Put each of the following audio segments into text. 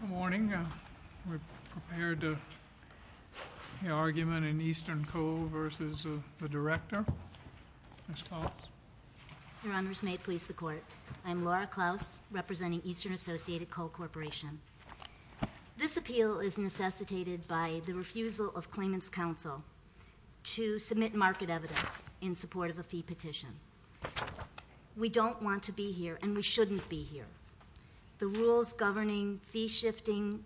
Good morning. We're prepared to hear the argument in Eastern Coal v. the Director. Ms. Klaus? Your Honors, may it please the Court, I'm Laura Klaus, representing Eastern Associated Coal Corporation. This appeal is necessitated by the refusal of Claimant's Counsel to submit market evidence in support of a fee petition. We don't want to be here, and we shouldn't be here. The rules governing fee-shifting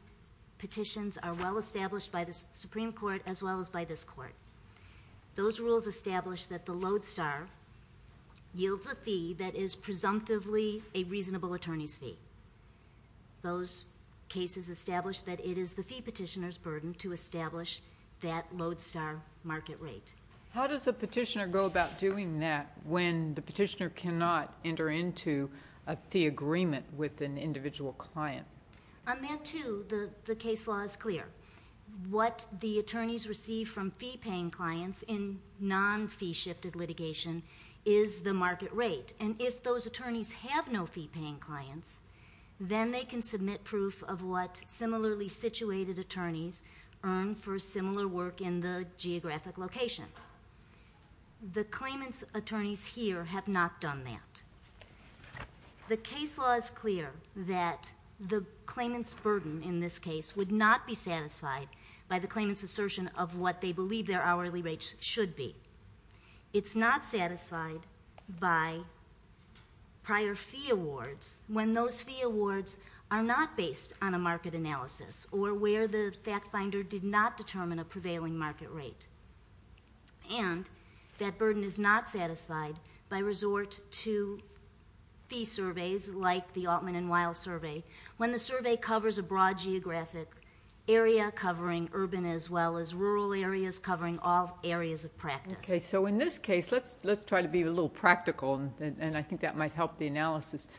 petitions are well established by the Supreme Court as well as by this Court. Those rules establish that the lodestar yields a fee that is presumptively a reasonable attorney's fee. Those cases establish that it is the fee petitioner's burden to establish that lodestar market rate. How does a petitioner go about doing that when the petitioner cannot enter into a fee agreement with an individual client? On that, too, the case law is clear. What the attorneys receive from fee-paying clients in non-fee-shifted litigation is the market rate. And if those attorneys have no fee-paying clients, then they can submit proof of what similarly situated attorneys earn for similar work in the geographic location. The claimant's attorneys here have not done that. The case law is clear that the claimant's burden in this case would not be satisfied by the claimant's assertion of what they believe their hourly rates should be. It's not satisfied by prior fee awards when those fee awards are not based on a market analysis or where the fact finder did not determine a prevailing market rate. And that burden is not satisfied by resort to fee surveys like the Altman and Wiles survey when the survey covers a broad geographic area covering urban as well as rural areas covering all areas of practice. Okay. So in this case, let's try to be a little practical, and I think that might help the analysis.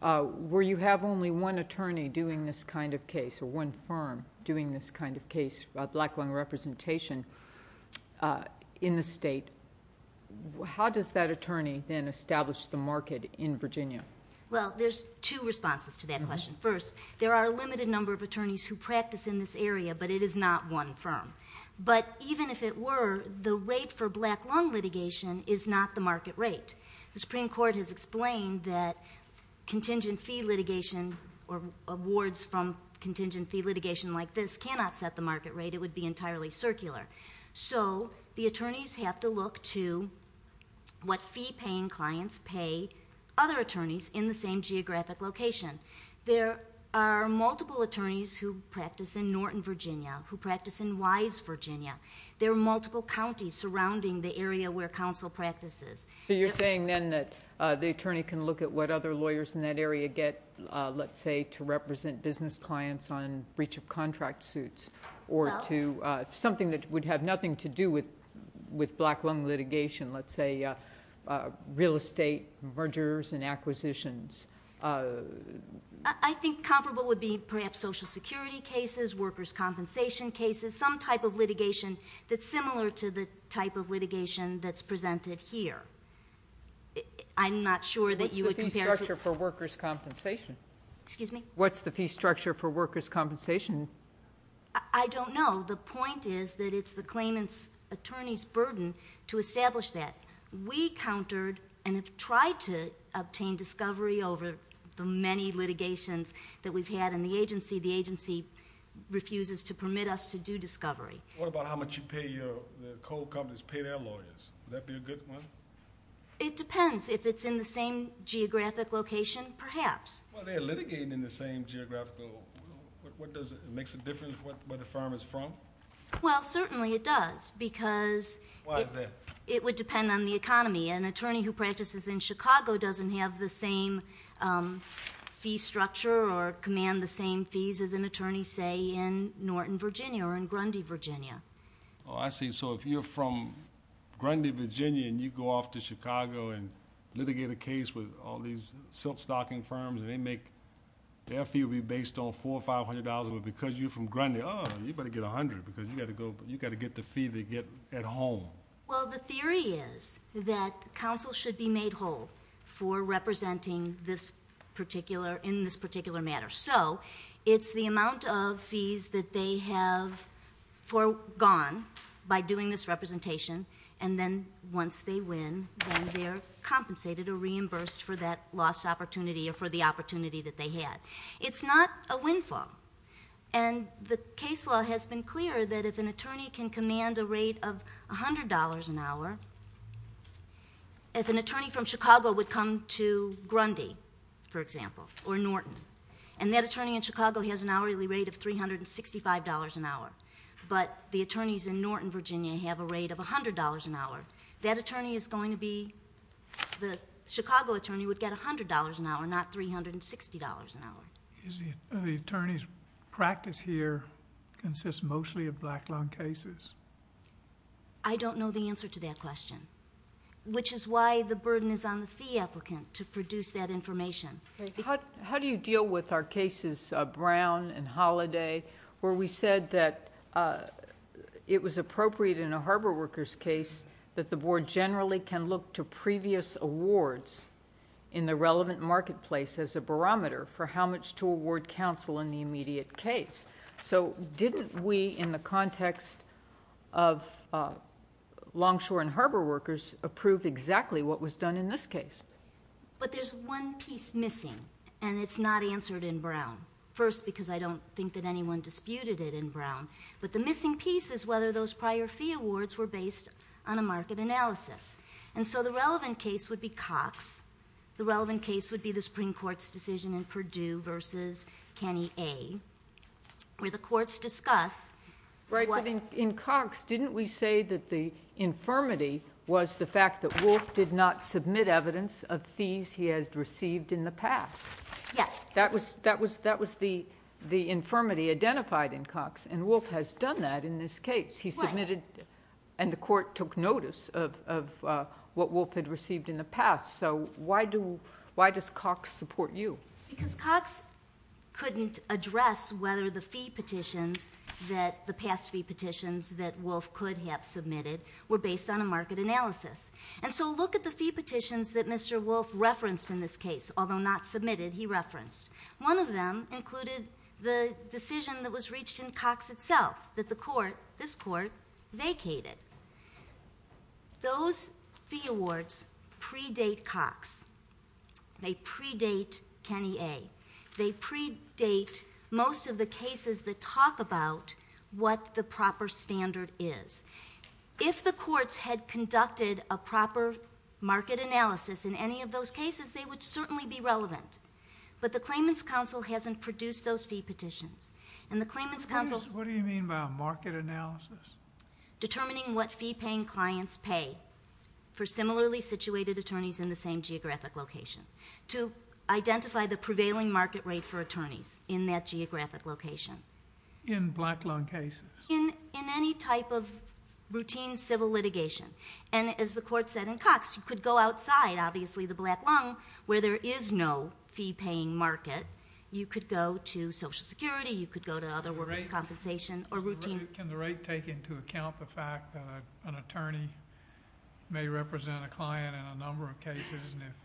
Where you have only one attorney doing this kind of case or one firm doing this kind of case, black-lung representation in the state, how does that attorney then establish the market in Virginia? Well, there's two responses to that question. First, there are a limited number of attorneys who practice in this area, but it is not one firm. But even if it were, the rate for black-lung litigation is not the market rate. The Supreme Court has explained that contingent fee litigation or awards from contingent fee litigation like this cannot set the market rate. It would be entirely circular. So the attorneys have to look to what fee-paying clients pay other attorneys in the same geographic location. There are multiple attorneys who practice in Norton, Virginia, who practice in Wise, Virginia. There are multiple counties surrounding the area where counsel practices. So you're saying then that the attorney can look at what other lawyers in that area get, let's say, to represent business clients on breach of contract suits or to something that would have nothing to do with black-lung litigation, let's say real estate mergers and acquisitions. I think comparable would be perhaps Social Security cases, workers' compensation cases, some type of litigation that's similar to the type of litigation that's presented here. I'm not sure that you would compare it to... What's the fee structure for workers' compensation? Excuse me? What's the fee structure for workers' compensation? I don't know. The point is that it's the claimant's attorney's burden to establish that. We countered and have tried to obtain discovery over the many litigations that we've had in the agency. The agency refuses to permit us to do discovery. What about how much you pay the coal companies pay their lawyers? Would that be a good one? It depends. If it's in the same geographic location, perhaps. Well, they're litigating in the same geographical. Does it make a difference where the firm is from? Well, certainly it does because it would depend on the economy. An attorney who practices in Chicago doesn't have the same fee structure or command the same fees as an attorney, say, in Norton, Virginia or in Grundy, Virginia. Oh, I see. So if you're from Grundy, Virginia and you go off to Chicago and litigate a case with all these silk stocking firms and their fee will be based on $400 or $500 because you're from Grundy, oh, you better get $100 because you've got to get the fee they get at home. Well, the theory is that counsel should be made whole for representing in this particular matter. So it's the amount of fees that they have foregone by doing this representation and then once they win then they're compensated or reimbursed for that lost opportunity or for the opportunity that they had. It's not a windfall. And the case law has been clear that if an attorney can command a rate of $100 an hour, if an attorney from Chicago would come to Grundy, for example, or Norton, and that attorney in Chicago has an hourly rate of $365 an hour, but the attorneys in Norton, Virginia have a rate of $100 an hour, that attorney is going to be the Chicago attorney would get $100 an hour, not $360 an hour. The attorney's practice here consists mostly of black-lung cases. I don't know the answer to that question, which is why the burden is on the fee applicant to produce that information. How do you deal with our cases, Brown and Holliday, where we said that it was appropriate in a harbor workers case that the board generally can look to previous awards in the relevant marketplace as a barometer for how much to award counsel in the immediate case. So didn't we, in the context of Longshore and Harbor workers, approve exactly what was done in this case? But there's one piece missing, and it's not answered in Brown. First, because I don't think that anyone disputed it in Brown. But the missing piece is whether those prior fee awards were based on a market analysis. And so the relevant case would be Cox. The relevant case would be the Supreme Court's decision in Perdue v. Kenny A, where the courts discuss what... Right, but in Cox, didn't we say that the infirmity was the fact that Wolfe did not submit evidence of fees he has received in the past? Yes. That was the infirmity identified in Cox, and Wolfe has done that in this case. He submitted, and the court took notice of what Wolfe had received in the past. So why does Cox support you? Because Cox couldn't address whether the fee petitions that the past fee petitions that Wolfe could have submitted were based on a market analysis. And so look at the fee petitions that Mr. Wolfe referenced in this case, although not submitted, he referenced. One of them included the decision that was reached in Cox itself that the court, this court, vacated. Those fee awards predate Cox. They predate Kenny A. They predate most of the cases that talk about what the proper standard is. If the courts had conducted a proper market analysis in any of those cases, they would certainly be relevant. But the Claimants Council hasn't produced those fee petitions. And the Claimants Council... What do you mean by market analysis? Determining what fee-paying clients pay for similarly situated attorneys in the same geographic location to identify the prevailing market rate for attorneys in that geographic location. In black lung cases? In any type of routine civil litigation. And as the court said in Cox, you could go outside, obviously, the black lung, where there is no fee-paying market. You could go to Social Security. You could go to other workers' compensation. Can the rate take into account the fact that an attorney may represent a client in a number of cases, and if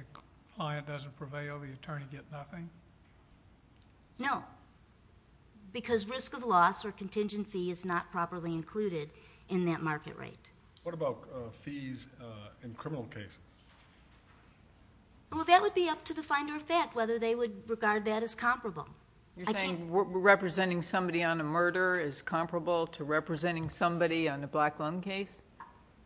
the client doesn't prevail, the attorney gets nothing? No. Because risk of loss or contingent fee is not properly included in that market rate. What about fees in criminal cases? Well, that would be up to the finder of fact, whether they would regard that as comparable. You're saying representing somebody on a murder is comparable to representing somebody on a black lung case?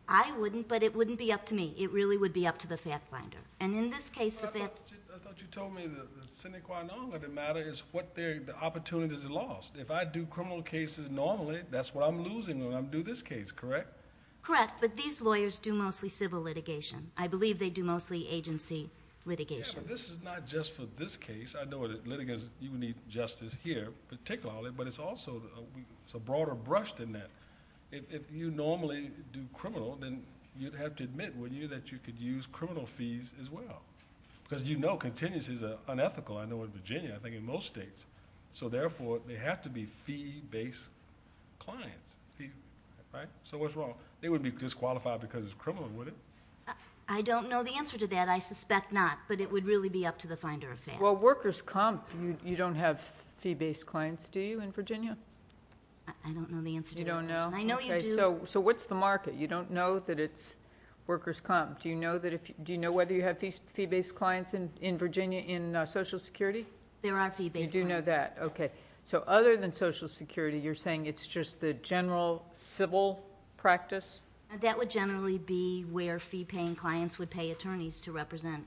I wouldn't, but it wouldn't be up to me. It really would be up to the fact finder. And in this case... I thought you told me the sine qua non of the matter is what the opportunities are lost. If I do criminal cases normally, that's what I'm losing when I do this case, correct? Correct, but these lawyers do mostly civil litigation. I believe they do mostly agency litigation. Yeah, but this is not just for this case. I know that litigants, you would need justice here particularly, but it's also a broader brush than that. If you normally do criminal, then you'd have to admit, wouldn't you, that you could use criminal fees as well? Because you know contingency is unethical, I know, in Virginia, I think in most states. So therefore, they have to be fee-based clients, right? So what's wrong? They wouldn't be disqualified because it's criminal, would it? I don't know the answer to that. I suspect not, but it would really be up to the finder of fact. Well, workers' comp, you don't have fee-based clients, do you, in Virginia? I don't know the answer to that question. You don't know? I know you do. So what's the market? You don't know that it's workers' comp. Do you know whether you have fee-based clients in Virginia in Social Security? There are fee-based clients. You do know that, okay. So other than Social Security, you're saying it's just the general civil practice? That would generally be where fee-paying clients would pay attorneys to represent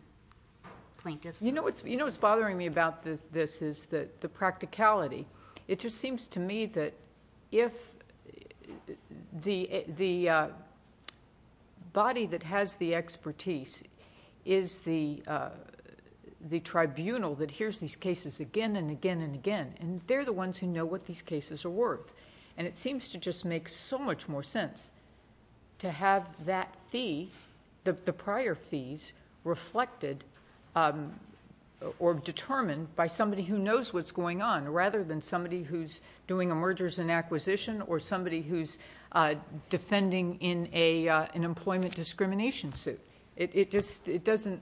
plaintiffs. You know what's bothering me about this is the practicality. It just seems to me that if the body that has the expertise is the tribunal that hears these cases again and again and again, and they're the ones who know what these cases are worth, and it seems to just make so much more sense to have that fee, the prior fees reflected or determined by somebody who knows what's going on rather than somebody who's doing a mergers and acquisition or somebody who's defending in an employment discrimination suit. It doesn't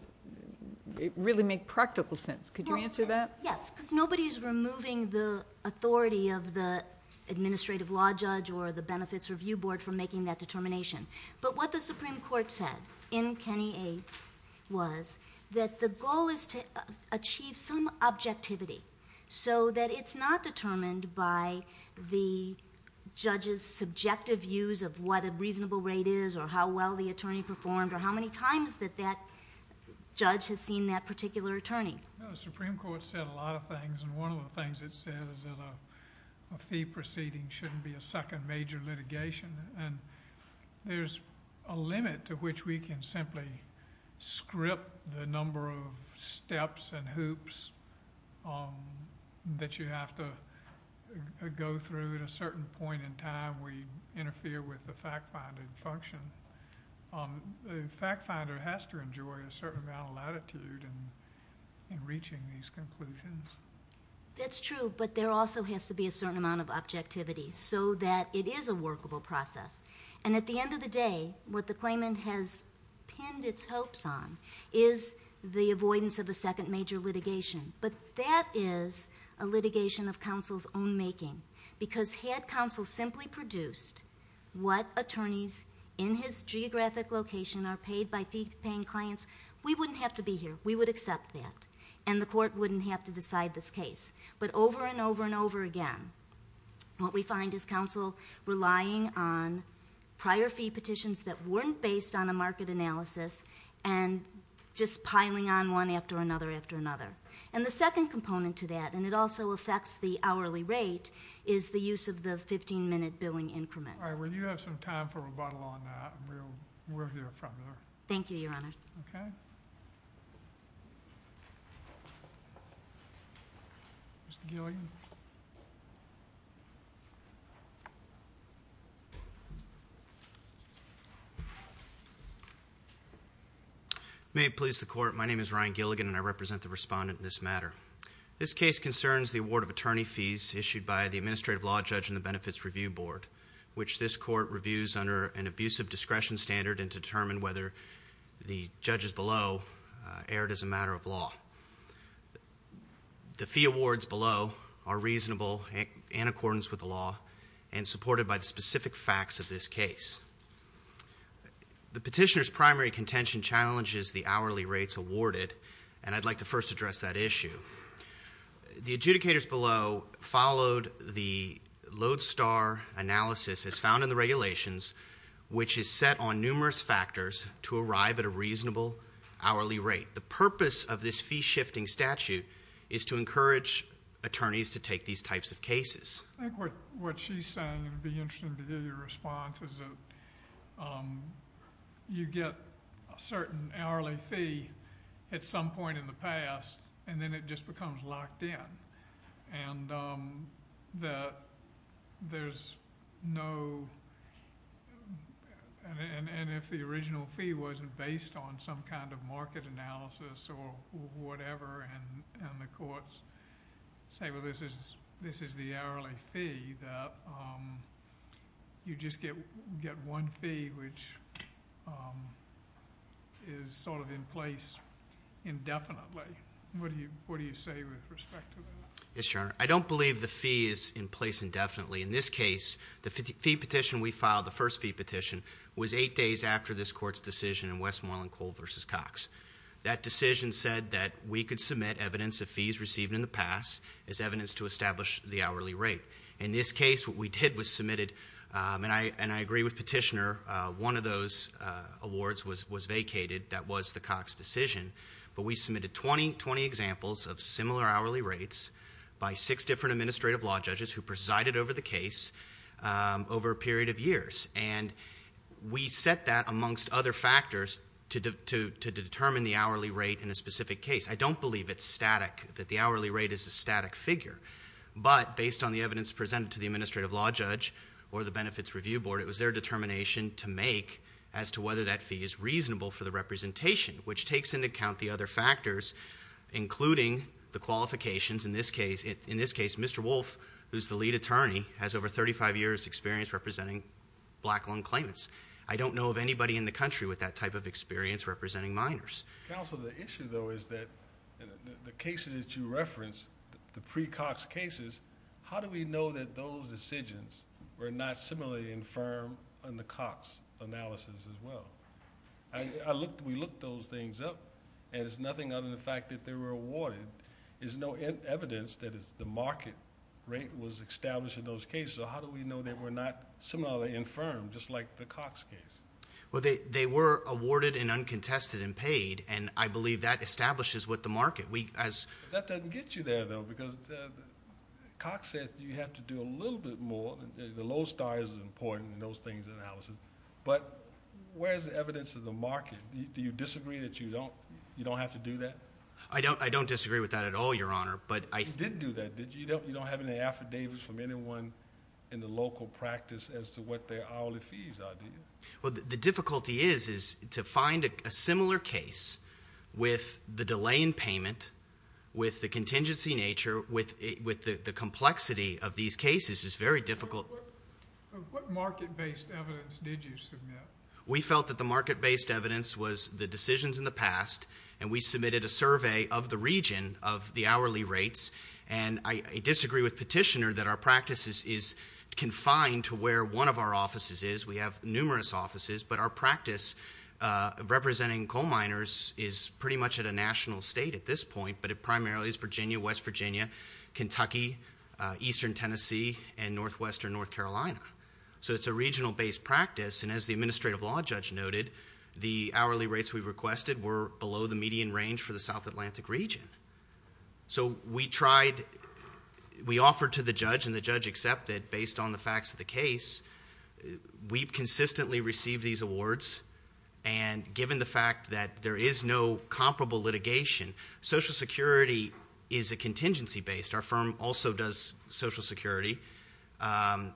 really make practical sense. Could you answer that? Yes, because nobody's removing the authority of the administrative law judge or the benefits review board from making that determination. But what the Supreme Court said in Kenny A. was that the goal is to achieve some objectivity so that it's not determined by the judge's subjective views of what a reasonable rate is or how well the attorney performed or how many times that that judge has seen that particular attorney. The Supreme Court said a lot of things, and one of the things it said is that a fee proceeding shouldn't be a second major litigation. And there's a limit to which we can simply script the number of steps and hoops that you have to go through at a certain point in time where you interfere with the fact-finding function. The fact-finder has to enjoy a certain amount of latitude in reaching these conclusions. That's true, but there also has to be a certain amount of objectivity so that it is a workable process. And at the end of the day, what the claimant has pinned its hopes on is the avoidance of a second major litigation. But that is a litigation of counsel's own making, because had counsel simply produced what attorneys in his geographic location are paid by fee-paying clients, we wouldn't have to be here. We would accept that, and the court wouldn't have to decide this case. But over and over and over again, what we find is counsel relying on prior fee petitions that weren't based on a market analysis and just piling on one after another after another. And the second component to that, and it also affects the hourly rate, is the use of the 15-minute billing increments. All right, well, you have some time for rebuttal on that, and we'll hear from you. Thank you, Your Honor. Okay. Mr. Gilligan. May it please the Court, my name is Ryan Gilligan, and I represent the respondent in this matter. This case concerns the award of attorney fees issued by the administrative law judge in the Benefits Review Board, which this court reviews under an abusive discretion standard and to determine whether the judges below erred as a matter of law. The fee awards below are reasonable in accordance with the law and supported by the specific facts of this case. The petitioner's primary contention challenges the hourly rates awarded, and I'd like to first address that issue. The adjudicators below followed the Lodestar analysis as found in the regulations, which is set on numerous factors to arrive at a reasonable hourly rate. The purpose of this fee-shifting statute is to encourage attorneys to take these types of cases. I think what she's saying, and it would be interesting to hear your response, is that you get a certain hourly fee at some point in the past, and then it just becomes locked in, and that there's no—and if the original fee wasn't based on some kind of market analysis or whatever, and the courts say, well, this is the hourly fee, that you just get one fee which is sort of in place indefinitely. What do you say with respect to that? Yes, Your Honor. I don't believe the fee is in place indefinitely. In this case, the fee petition we filed, the first fee petition, was eight days after this court's decision in Westmoreland Coal v. Cox. That decision said that we could submit evidence of fees received in the past as evidence to establish the hourly rate. In this case, what we did was submitted, and I agree with Petitioner, one of those awards was vacated. That was the Cox decision, but we submitted 20 examples of similar hourly rates by six different administrative law judges who presided over the case over a period of years, and we set that amongst other factors to determine the hourly rate in a specific case. I don't believe it's static, that the hourly rate is a static figure, but based on the evidence presented to the administrative law judge or the Benefits Review Board, it was their determination to make as to whether that fee is reasonable for the representation, which takes into account the other factors, including the qualifications. In this case, Mr. Wolf, who's the lead attorney, has over 35 years' experience representing black loan claimants. I don't know of anybody in the country with that type of experience representing minors. Counsel, the issue, though, is that the cases that you referenced, the pre-Cox cases, how do we know that those decisions were not similarly infirm in the Cox analysis as well? We looked those things up, and it's nothing other than the fact that they were awarded. There's no evidence that the market rate was established in those cases, so how do we know they were not similarly infirm, just like the Cox case? Well, they were awarded and uncontested and paid, and I believe that establishes what the market. That doesn't get you there, though, because Cox says you have to do a little bit more. The low star is important in those things in analysis, but where's the evidence of the market? Do you disagree that you don't have to do that? I don't disagree with that at all, Your Honor, but I- You did do that, did you? You don't have any affidavits from anyone in the local practice as to what their hourly fees are, do you? Well, the difficulty is to find a similar case with the delay in payment, with the contingency nature, with the complexity of these cases is very difficult. What market-based evidence did you submit? We felt that the market-based evidence was the decisions in the past, and we submitted a survey of the region of the hourly rates, and I disagree with Petitioner that our practice is confined to where one of our offices is. We have numerous offices, but our practice representing coal miners is pretty much at a national state at this point, but it primarily is Virginia, West Virginia, Kentucky, eastern Tennessee, and northwestern North Carolina. So it's a regional-based practice, and as the administrative law judge noted, the hourly rates we requested were below the median range for the South Atlantic region. So we offered to the judge, and the judge accepted based on the facts of the case. We've consistently received these awards, and given the fact that there is no comparable litigation, Social Security is a contingency-based. Our firm also does Social Security, and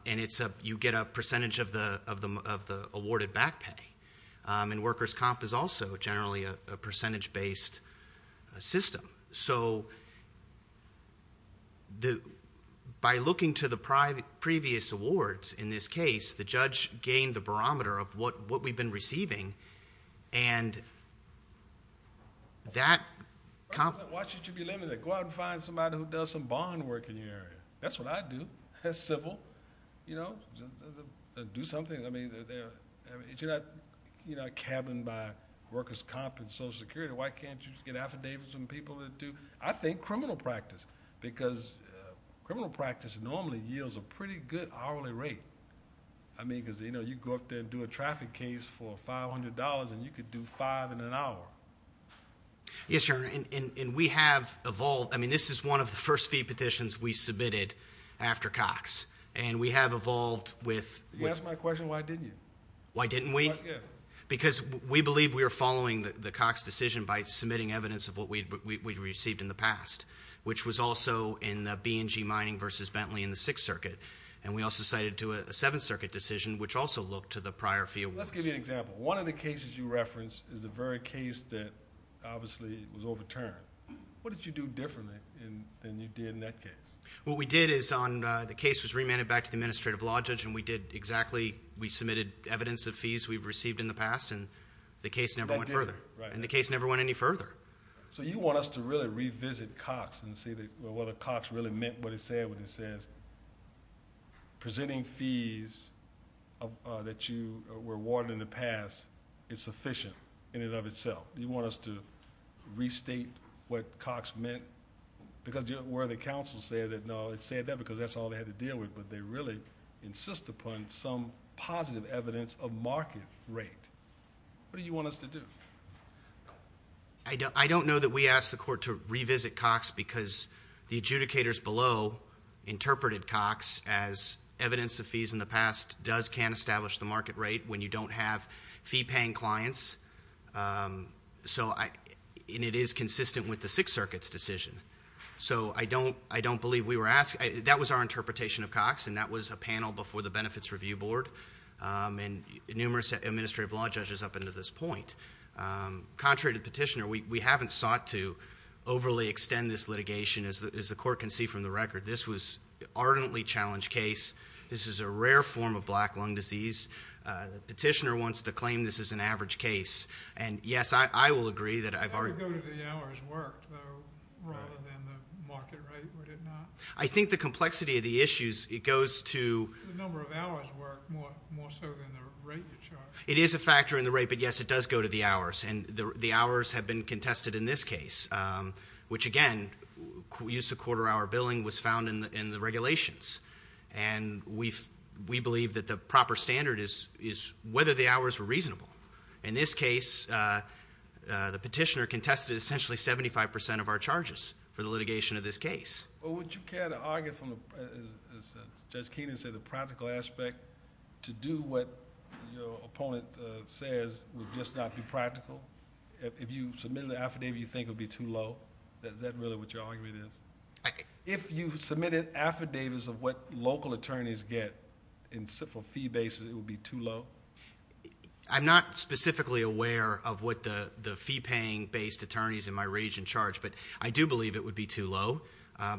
you get a percentage of the awarded back pay, and workers' comp is also generally a percentage-based system. So by looking to the previous awards in this case, the judge gained the barometer of what we've been receiving, and that comp- Why should you be limited? Go out and find somebody who does some bond work in your area. That's what I do. That's civil. You know, do something. I mean, you're not cabined by workers' comp and Social Security. Why can't you just get affidavits from people that do, I think, criminal practice? Because criminal practice normally yields a pretty good hourly rate. I mean, because you go up there and do a traffic case for $500, and you could do five in an hour. Yes, Your Honor, and we have evolved. I mean, this is one of the first fee petitions we submitted after Cox, and we have evolved with- You asked my question, why didn't you? Why didn't we? Because we believe we are following the Cox decision by submitting evidence of what we'd received in the past, which was also in the B&G mining versus Bentley in the Sixth Circuit, and we also cited to a Seventh Circuit decision, which also looked to the prior fee awards. Let's give you an example. One of the cases you referenced is the very case that obviously was overturned. What did you do differently than you did in that case? What we did is the case was remanded back to the administrative law judge, and we did exactly. We submitted evidence of fees we've received in the past, and the case never went further. And the case never went any further. So you want us to really revisit Cox and see whether Cox really meant what it said when it says, presenting fees that you were awarded in the past is sufficient in and of itself. You want us to restate what Cox meant? Because where the counsel said that, no, it said that because that's all they had to deal with, but they really insist upon some positive evidence of market rate. What do you want us to do? I don't know that we asked the court to revisit Cox because the adjudicators below interpreted Cox as evidence of fees in the past, does can establish the market rate when you don't have fee-paying clients. And it is consistent with the Sixth Circuit's decision. So I don't believe we were asked. That was our interpretation of Cox, and that was a panel before the Benefits Review Board, and numerous administrative law judges up until this point. Contrary to the petitioner, we haven't sought to overly extend this litigation, as the court can see from the record. This was an ardently challenged case. This is a rare form of black lung disease. The petitioner wants to claim this is an average case. And, yes, I will agree that I've already ---- That would go to the hours worked, though, rather than the market rate, would it not? I think the complexity of the issues, it goes to ---- The number of hours worked more so than the rate you charged. It is a factor in the rate, but, yes, it does go to the hours. And the hours have been contested in this case, which, again, use of quarter-hour billing was found in the regulations. And we believe that the proper standard is whether the hours were reasonable. In this case, the petitioner contested essentially 75% of our charges for the litigation of this case. Well, would you care to argue from, as Judge Keenan said, the practical aspect, to do what your opponent says would just not be practical? If you submitted an affidavit, you think it would be too low? Is that really what your argument is? If you submitted affidavits of what local attorneys get for fee basis, it would be too low? I'm not specifically aware of what the fee-paying-based attorneys in my region charge, but I do believe it would be too low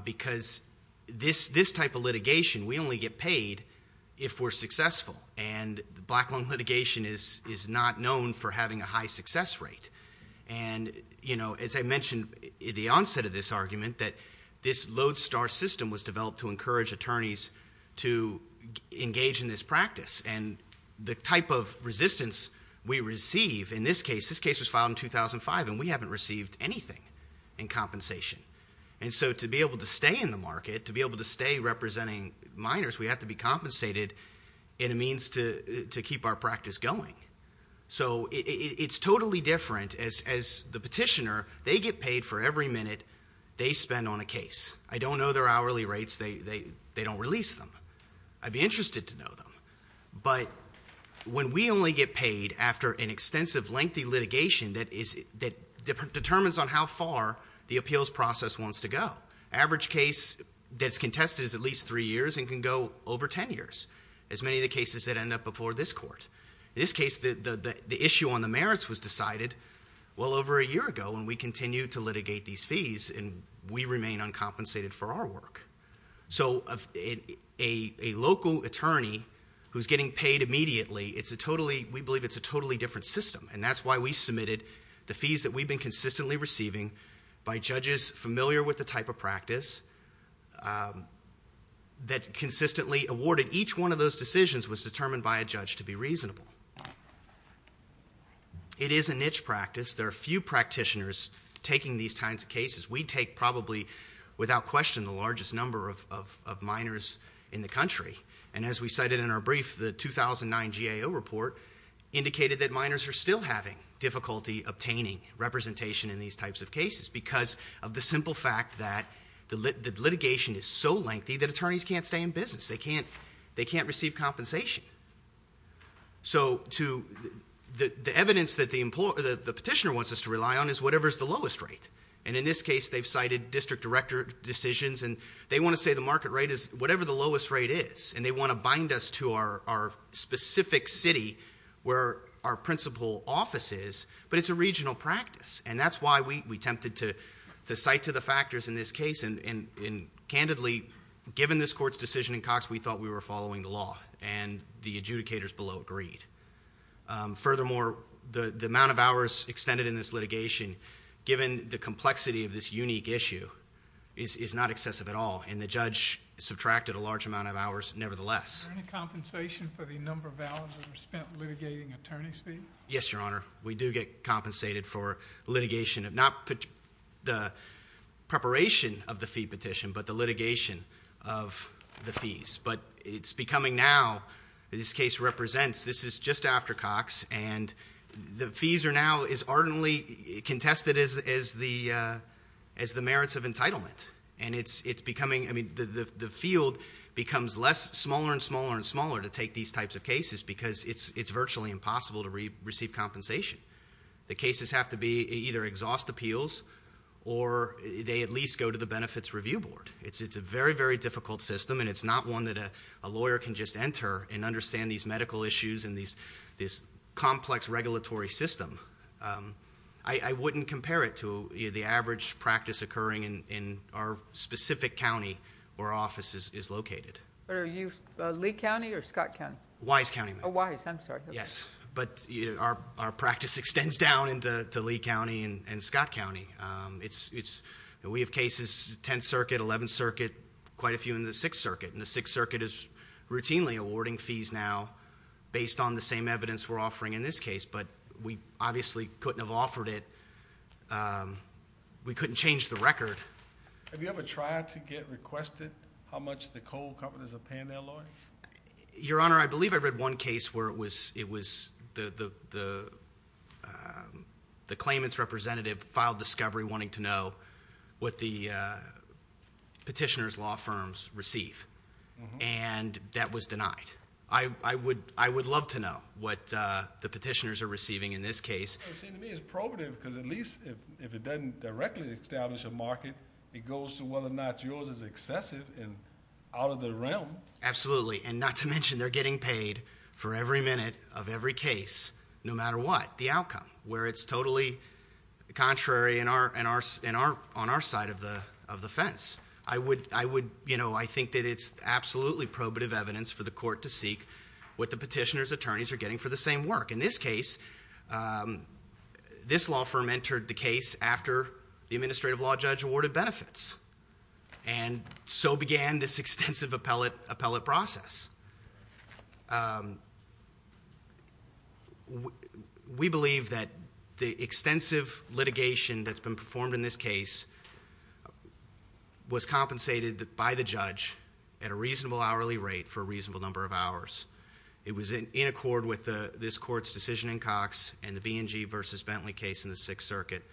because this type of litigation, we only get paid if we're successful. And black loan litigation is not known for having a high success rate. And, you know, as I mentioned at the onset of this argument, that this lodestar system was developed to encourage attorneys to engage in this practice. And the type of resistance we receive in this case, this case was filed in 2005, and we haven't received anything in compensation. And so to be able to stay in the market, to be able to stay representing minors, we have to be compensated in a means to keep our practice going. So it's totally different. As the petitioner, they get paid for every minute they spend on a case. I don't know their hourly rates. They don't release them. I'd be interested to know them. But when we only get paid after an extensive, lengthy litigation that determines on how far the appeals process wants to go, the average case that's contested is at least three years and can go over ten years, as many of the cases that end up before this court. In this case, the issue on the merits was decided well over a year ago, and we continue to litigate these fees, and we remain uncompensated for our work. So a local attorney who's getting paid immediately, we believe it's a totally different system, and that's why we submitted the fees that we've been consistently receiving by judges familiar with the type of practice that consistently awarded each one of those decisions was determined by a judge to be reasonable. It is a niche practice. There are few practitioners taking these kinds of cases. We take probably, without question, the largest number of minors in the country, and as we cited in our brief, the 2009 GAO report indicated that minors are still having difficulty obtaining representation in these types of cases because of the simple fact that the litigation is so lengthy that attorneys can't stay in business. They can't receive compensation. So the evidence that the petitioner wants us to rely on is whatever's the lowest rate, and in this case, they've cited district director decisions, and they want to say the market rate is whatever the lowest rate is, and they want to bind us to our specific city where our principal office is, but it's a regional practice, and that's why we attempted to cite to the factors in this case, and candidly, given this court's decision in Cox, we thought we were following the law, and the adjudicators below agreed. Furthermore, the amount of hours extended in this litigation, given the complexity of this unique issue, is not excessive at all, and the judge subtracted a large amount of hours nevertheless. Is there any compensation for the number of hours that are spent litigating attorney's fees? Yes, Your Honor. We do get compensated for litigation of not the preparation of the fee petition but the litigation of the fees, but it's becoming now, this case represents, this is just after Cox, and the fees are now, is ardently contested as the merits of entitlement, and it's becoming, I mean, the field becomes less, smaller and smaller and smaller to take these types of cases because it's virtually impossible to receive compensation. The cases have to be either exhaust appeals or they at least go to the benefits review board. It's a very, very difficult system, and it's not one that a lawyer can just enter and understand these medical issues and this complex regulatory system. I wouldn't compare it to the average practice occurring in our specific county where our office is located. Are you Lee County or Scott County? Wise County, ma'am. Wise, I'm sorry. Yes, but our practice extends down into Lee County and Scott County. We have cases, 10th Circuit, 11th Circuit, quite a few in the 6th Circuit, and the 6th Circuit is routinely awarding fees now based on the same evidence we're offering in this case, but we obviously couldn't have offered it. We couldn't change the record. Have you ever tried to get requested how much the coal companies are paying their lawyers? Your Honor, I believe I read one case where it was the claimant's representative filed discovery wanting to know what the petitioner's law firms receive, and that was denied. I would love to know what the petitioners are receiving in this case. It seems to me it's probative because at least if it doesn't directly establish a market, it goes to whether or not yours is excessive and out of the realm. Absolutely, and not to mention they're getting paid for every minute of every case, no matter what the outcome, where it's totally contrary on our side of the fence. I think that it's absolutely probative evidence for the court to seek what the petitioner's attorneys are getting for the same work. In this case, this law firm entered the case after the administrative law judge awarded benefits, and so began this extensive appellate process. We believe that the extensive litigation that's been performed in this case was compensated by the judge at a reasonable hourly rate for a reasonable number of hours. It was in accord with this court's decision in Cox and the B&G versus Bentley case in the Sixth Circuit,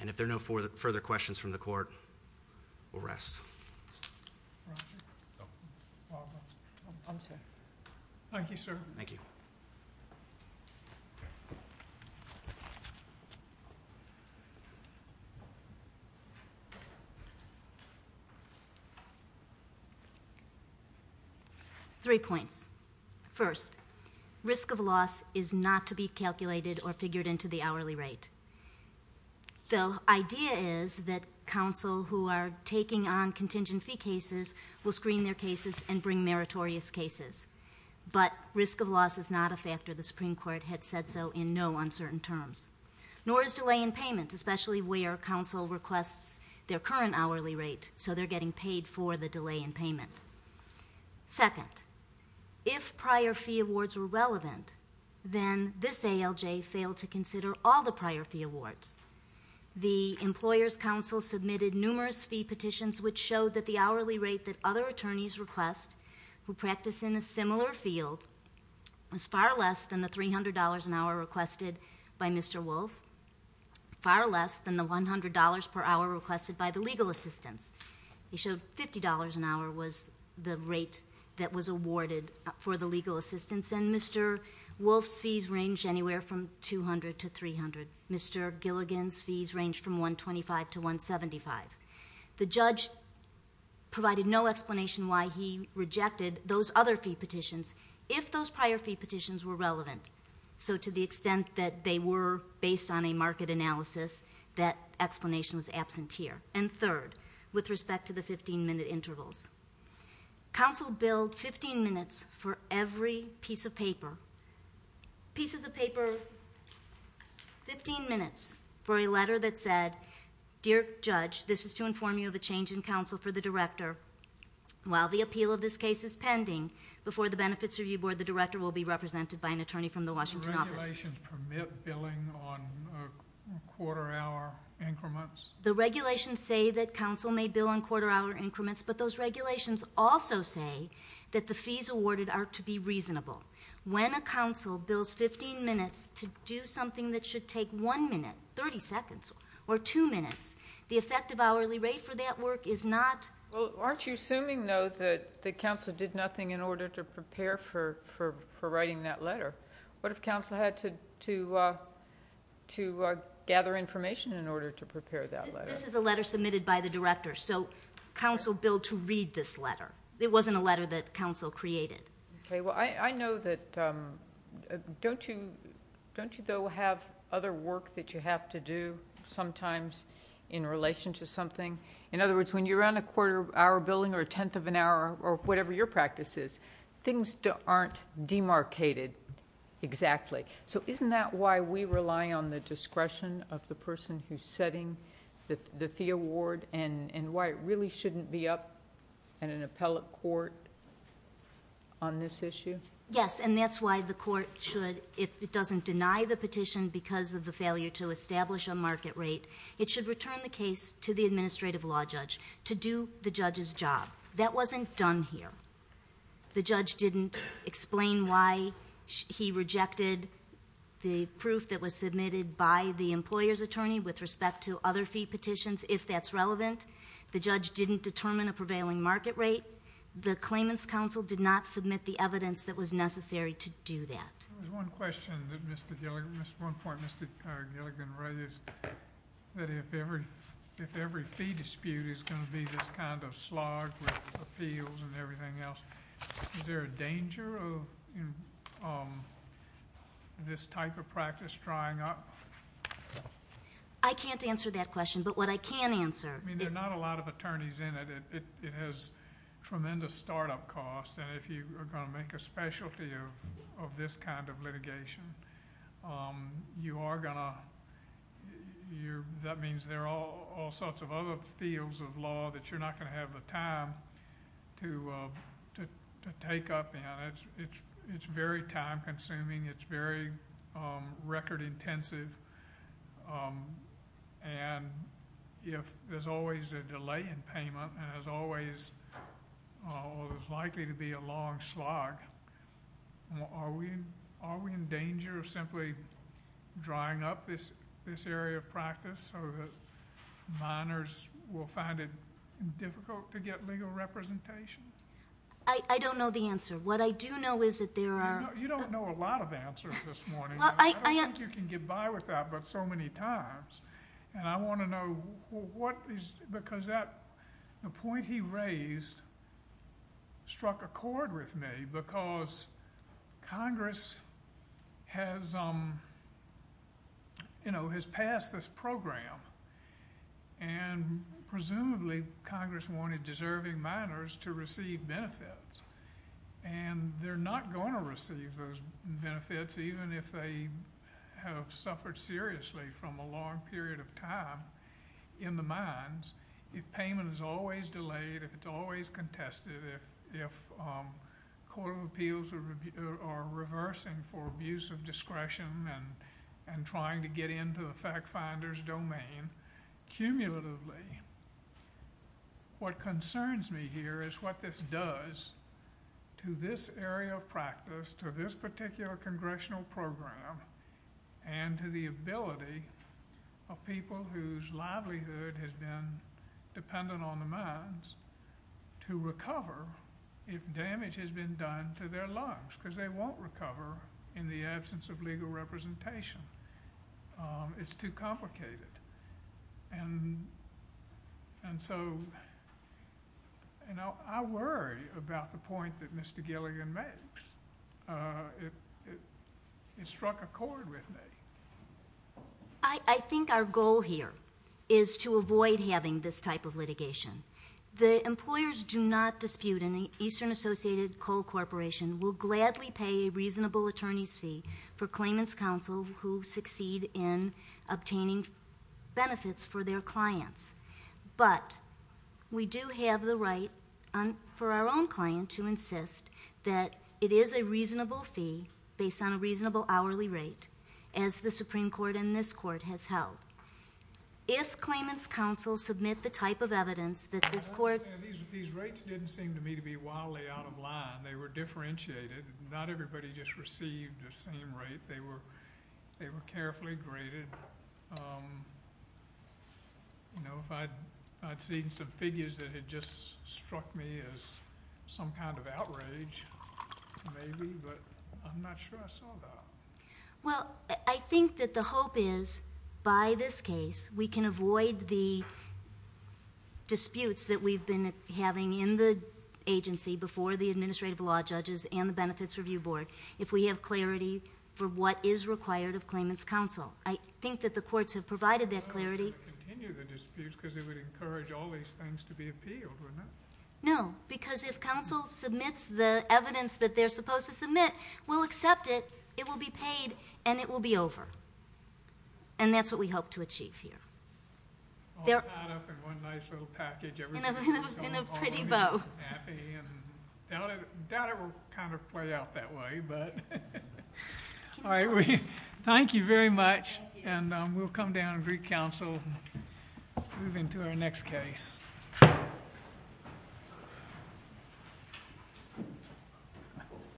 and if there are no further questions from the court, we'll rest. Thank you, sir. Thank you. Three points. First, risk of loss is not to be calculated or figured into the hourly rate. The idea is that counsel who are taking on contingent fee cases will screen their cases and bring meritorious cases, but risk of loss is not a factor. The Supreme Court had said so in no uncertain terms. Nor is delay in payment, especially where counsel requests their current hourly rate, so they're getting paid for the delay in payment. Second, if prior fee awards were relevant, then this ALJ failed to consider all the prior fee awards. The Employers' Council submitted numerous fee petitions, which showed that the hourly rate that other attorneys request who practice in a similar field was far less than the $300 an hour requested by Mr. Wolf, far less than the $100 per hour requested by the legal assistants. It showed $50 an hour was the rate that was awarded for the legal assistants, and Mr. Wolf's fees ranged anywhere from $200 to $300. Mr. Gilligan's fees ranged from $125 to $175. The judge provided no explanation why he rejected those other fee petitions if those prior fee petitions were relevant. So to the extent that they were based on a market analysis, that explanation was absent here. And third, with respect to the 15-minute intervals, counsel billed 15 minutes for every piece of paper, 15 minutes for a letter that said, Dear Judge, this is to inform you of a change in counsel for the director. While the appeal of this case is pending, before the Benefits Review Board, the director will be represented by an attorney from the Washington office. Do regulations permit billing on quarter-hour increments? The regulations say that counsel may bill on quarter-hour increments, but those regulations also say that the fees awarded are to be reasonable. When a counsel bills 15 minutes to do something that should take one minute, 30 seconds, or two minutes, the effective hourly rate for that work is not... Well, aren't you assuming, though, that counsel did nothing in order to prepare for writing that letter? What if counsel had to gather information in order to prepare that letter? This is a letter submitted by the director, so counsel billed to read this letter. It wasn't a letter that counsel created. Okay, well, I know that... Don't you, though, have other work that you have to do sometimes in relation to something? In other words, when you run a quarter-hour billing or a tenth of an hour or whatever your practice is, things aren't demarcated exactly. So isn't that why we rely on the discretion of the person who's setting the fee award and why it really shouldn't be up in an appellate court on this issue? Yes, and that's why the court should, if it doesn't deny the petition because of the failure to establish a market rate, it should return the case to the administrative law judge to do the judge's job. That wasn't done here. The judge didn't explain why he rejected the proof that was submitted by the employer's attorney with respect to other fee petitions, if that's relevant. The judge didn't determine a prevailing market rate. The claimant's counsel did not submit the evidence that was necessary to do that. There was one question that Mr. Gilligan, one point Mr. Gilligan raised, that if every fee dispute is going to be this kind of slog with appeals and everything else, is there a danger of this type of practice drying up? I can't answer that question, but what I can answer. I mean, there are not a lot of attorneys in it. It has tremendous startup costs, and if you are going to make a specialty of this kind of litigation, that means there are all sorts of other fields of law that you're not going to have the time to take up in. It's very time-consuming. It's very record-intensive, and there's always a delay in payment, and there's always likely to be a long slog. Are we in danger of simply drying up this area of practice so that minors will find it difficult to get legal representation? I don't know the answer. What I do know is that there are— You don't know a lot of answers this morning. I don't think you can get by with that but so many times, and I want to know what is—because the point he raised struck a chord with me because Congress has passed this program, and presumably Congress wanted deserving minors to receive benefits, and they're not going to receive those benefits even if they have suffered seriously from a long period of time in the mines if payment is always delayed, if it's always contested, if court of appeals are reversing for abuse of discretion and trying to get into the fact finder's domain cumulatively. What concerns me here is what this does to this area of practice, to this particular congressional program, and to the ability of people whose livelihood has been dependent on the mines to recover if damage has been done to their lives because they won't recover in the absence of legal representation. It's too complicated. And so I worry about the point that Mr. Gilligan makes. It struck a chord with me. I think our goal here is to avoid having this type of litigation. The employers do not dispute, and the Eastern Associated Coal Corporation will gladly pay a reasonable attorney's fee for claimants' counsel who succeed in obtaining benefits for their clients. But we do have the right for our own client to insist that it is a reasonable fee based on a reasonable hourly rate, as the Supreme Court and this court has held. If claimants' counsel submit the type of evidence that this court These rates didn't seem to me to be wildly out of line. They were differentiated. Not everybody just received the same rate. They were carefully graded. I'd seen some figures that had just struck me as some kind of outrage, maybe, but I'm not sure I saw that. Well, I think that the hope is, by this case, we can avoid the disputes that we've been having in the agency before the Administrative Law Judges and the Benefits Review Board if we have clarity for what is required of claimants' counsel. I think that the courts have provided that clarity. I thought it was going to continue the disputes because it would encourage all these things to be appealed, wouldn't it? No, because if counsel submits the evidence that they're supposed to submit, we'll accept it, it will be paid, and it will be over. And that's what we hope to achieve here. All tied up in one nice little package. In a pretty bow. I doubt it will kind of play out that way. All right, thank you very much. And we'll come down and greet counsel and move into our next case.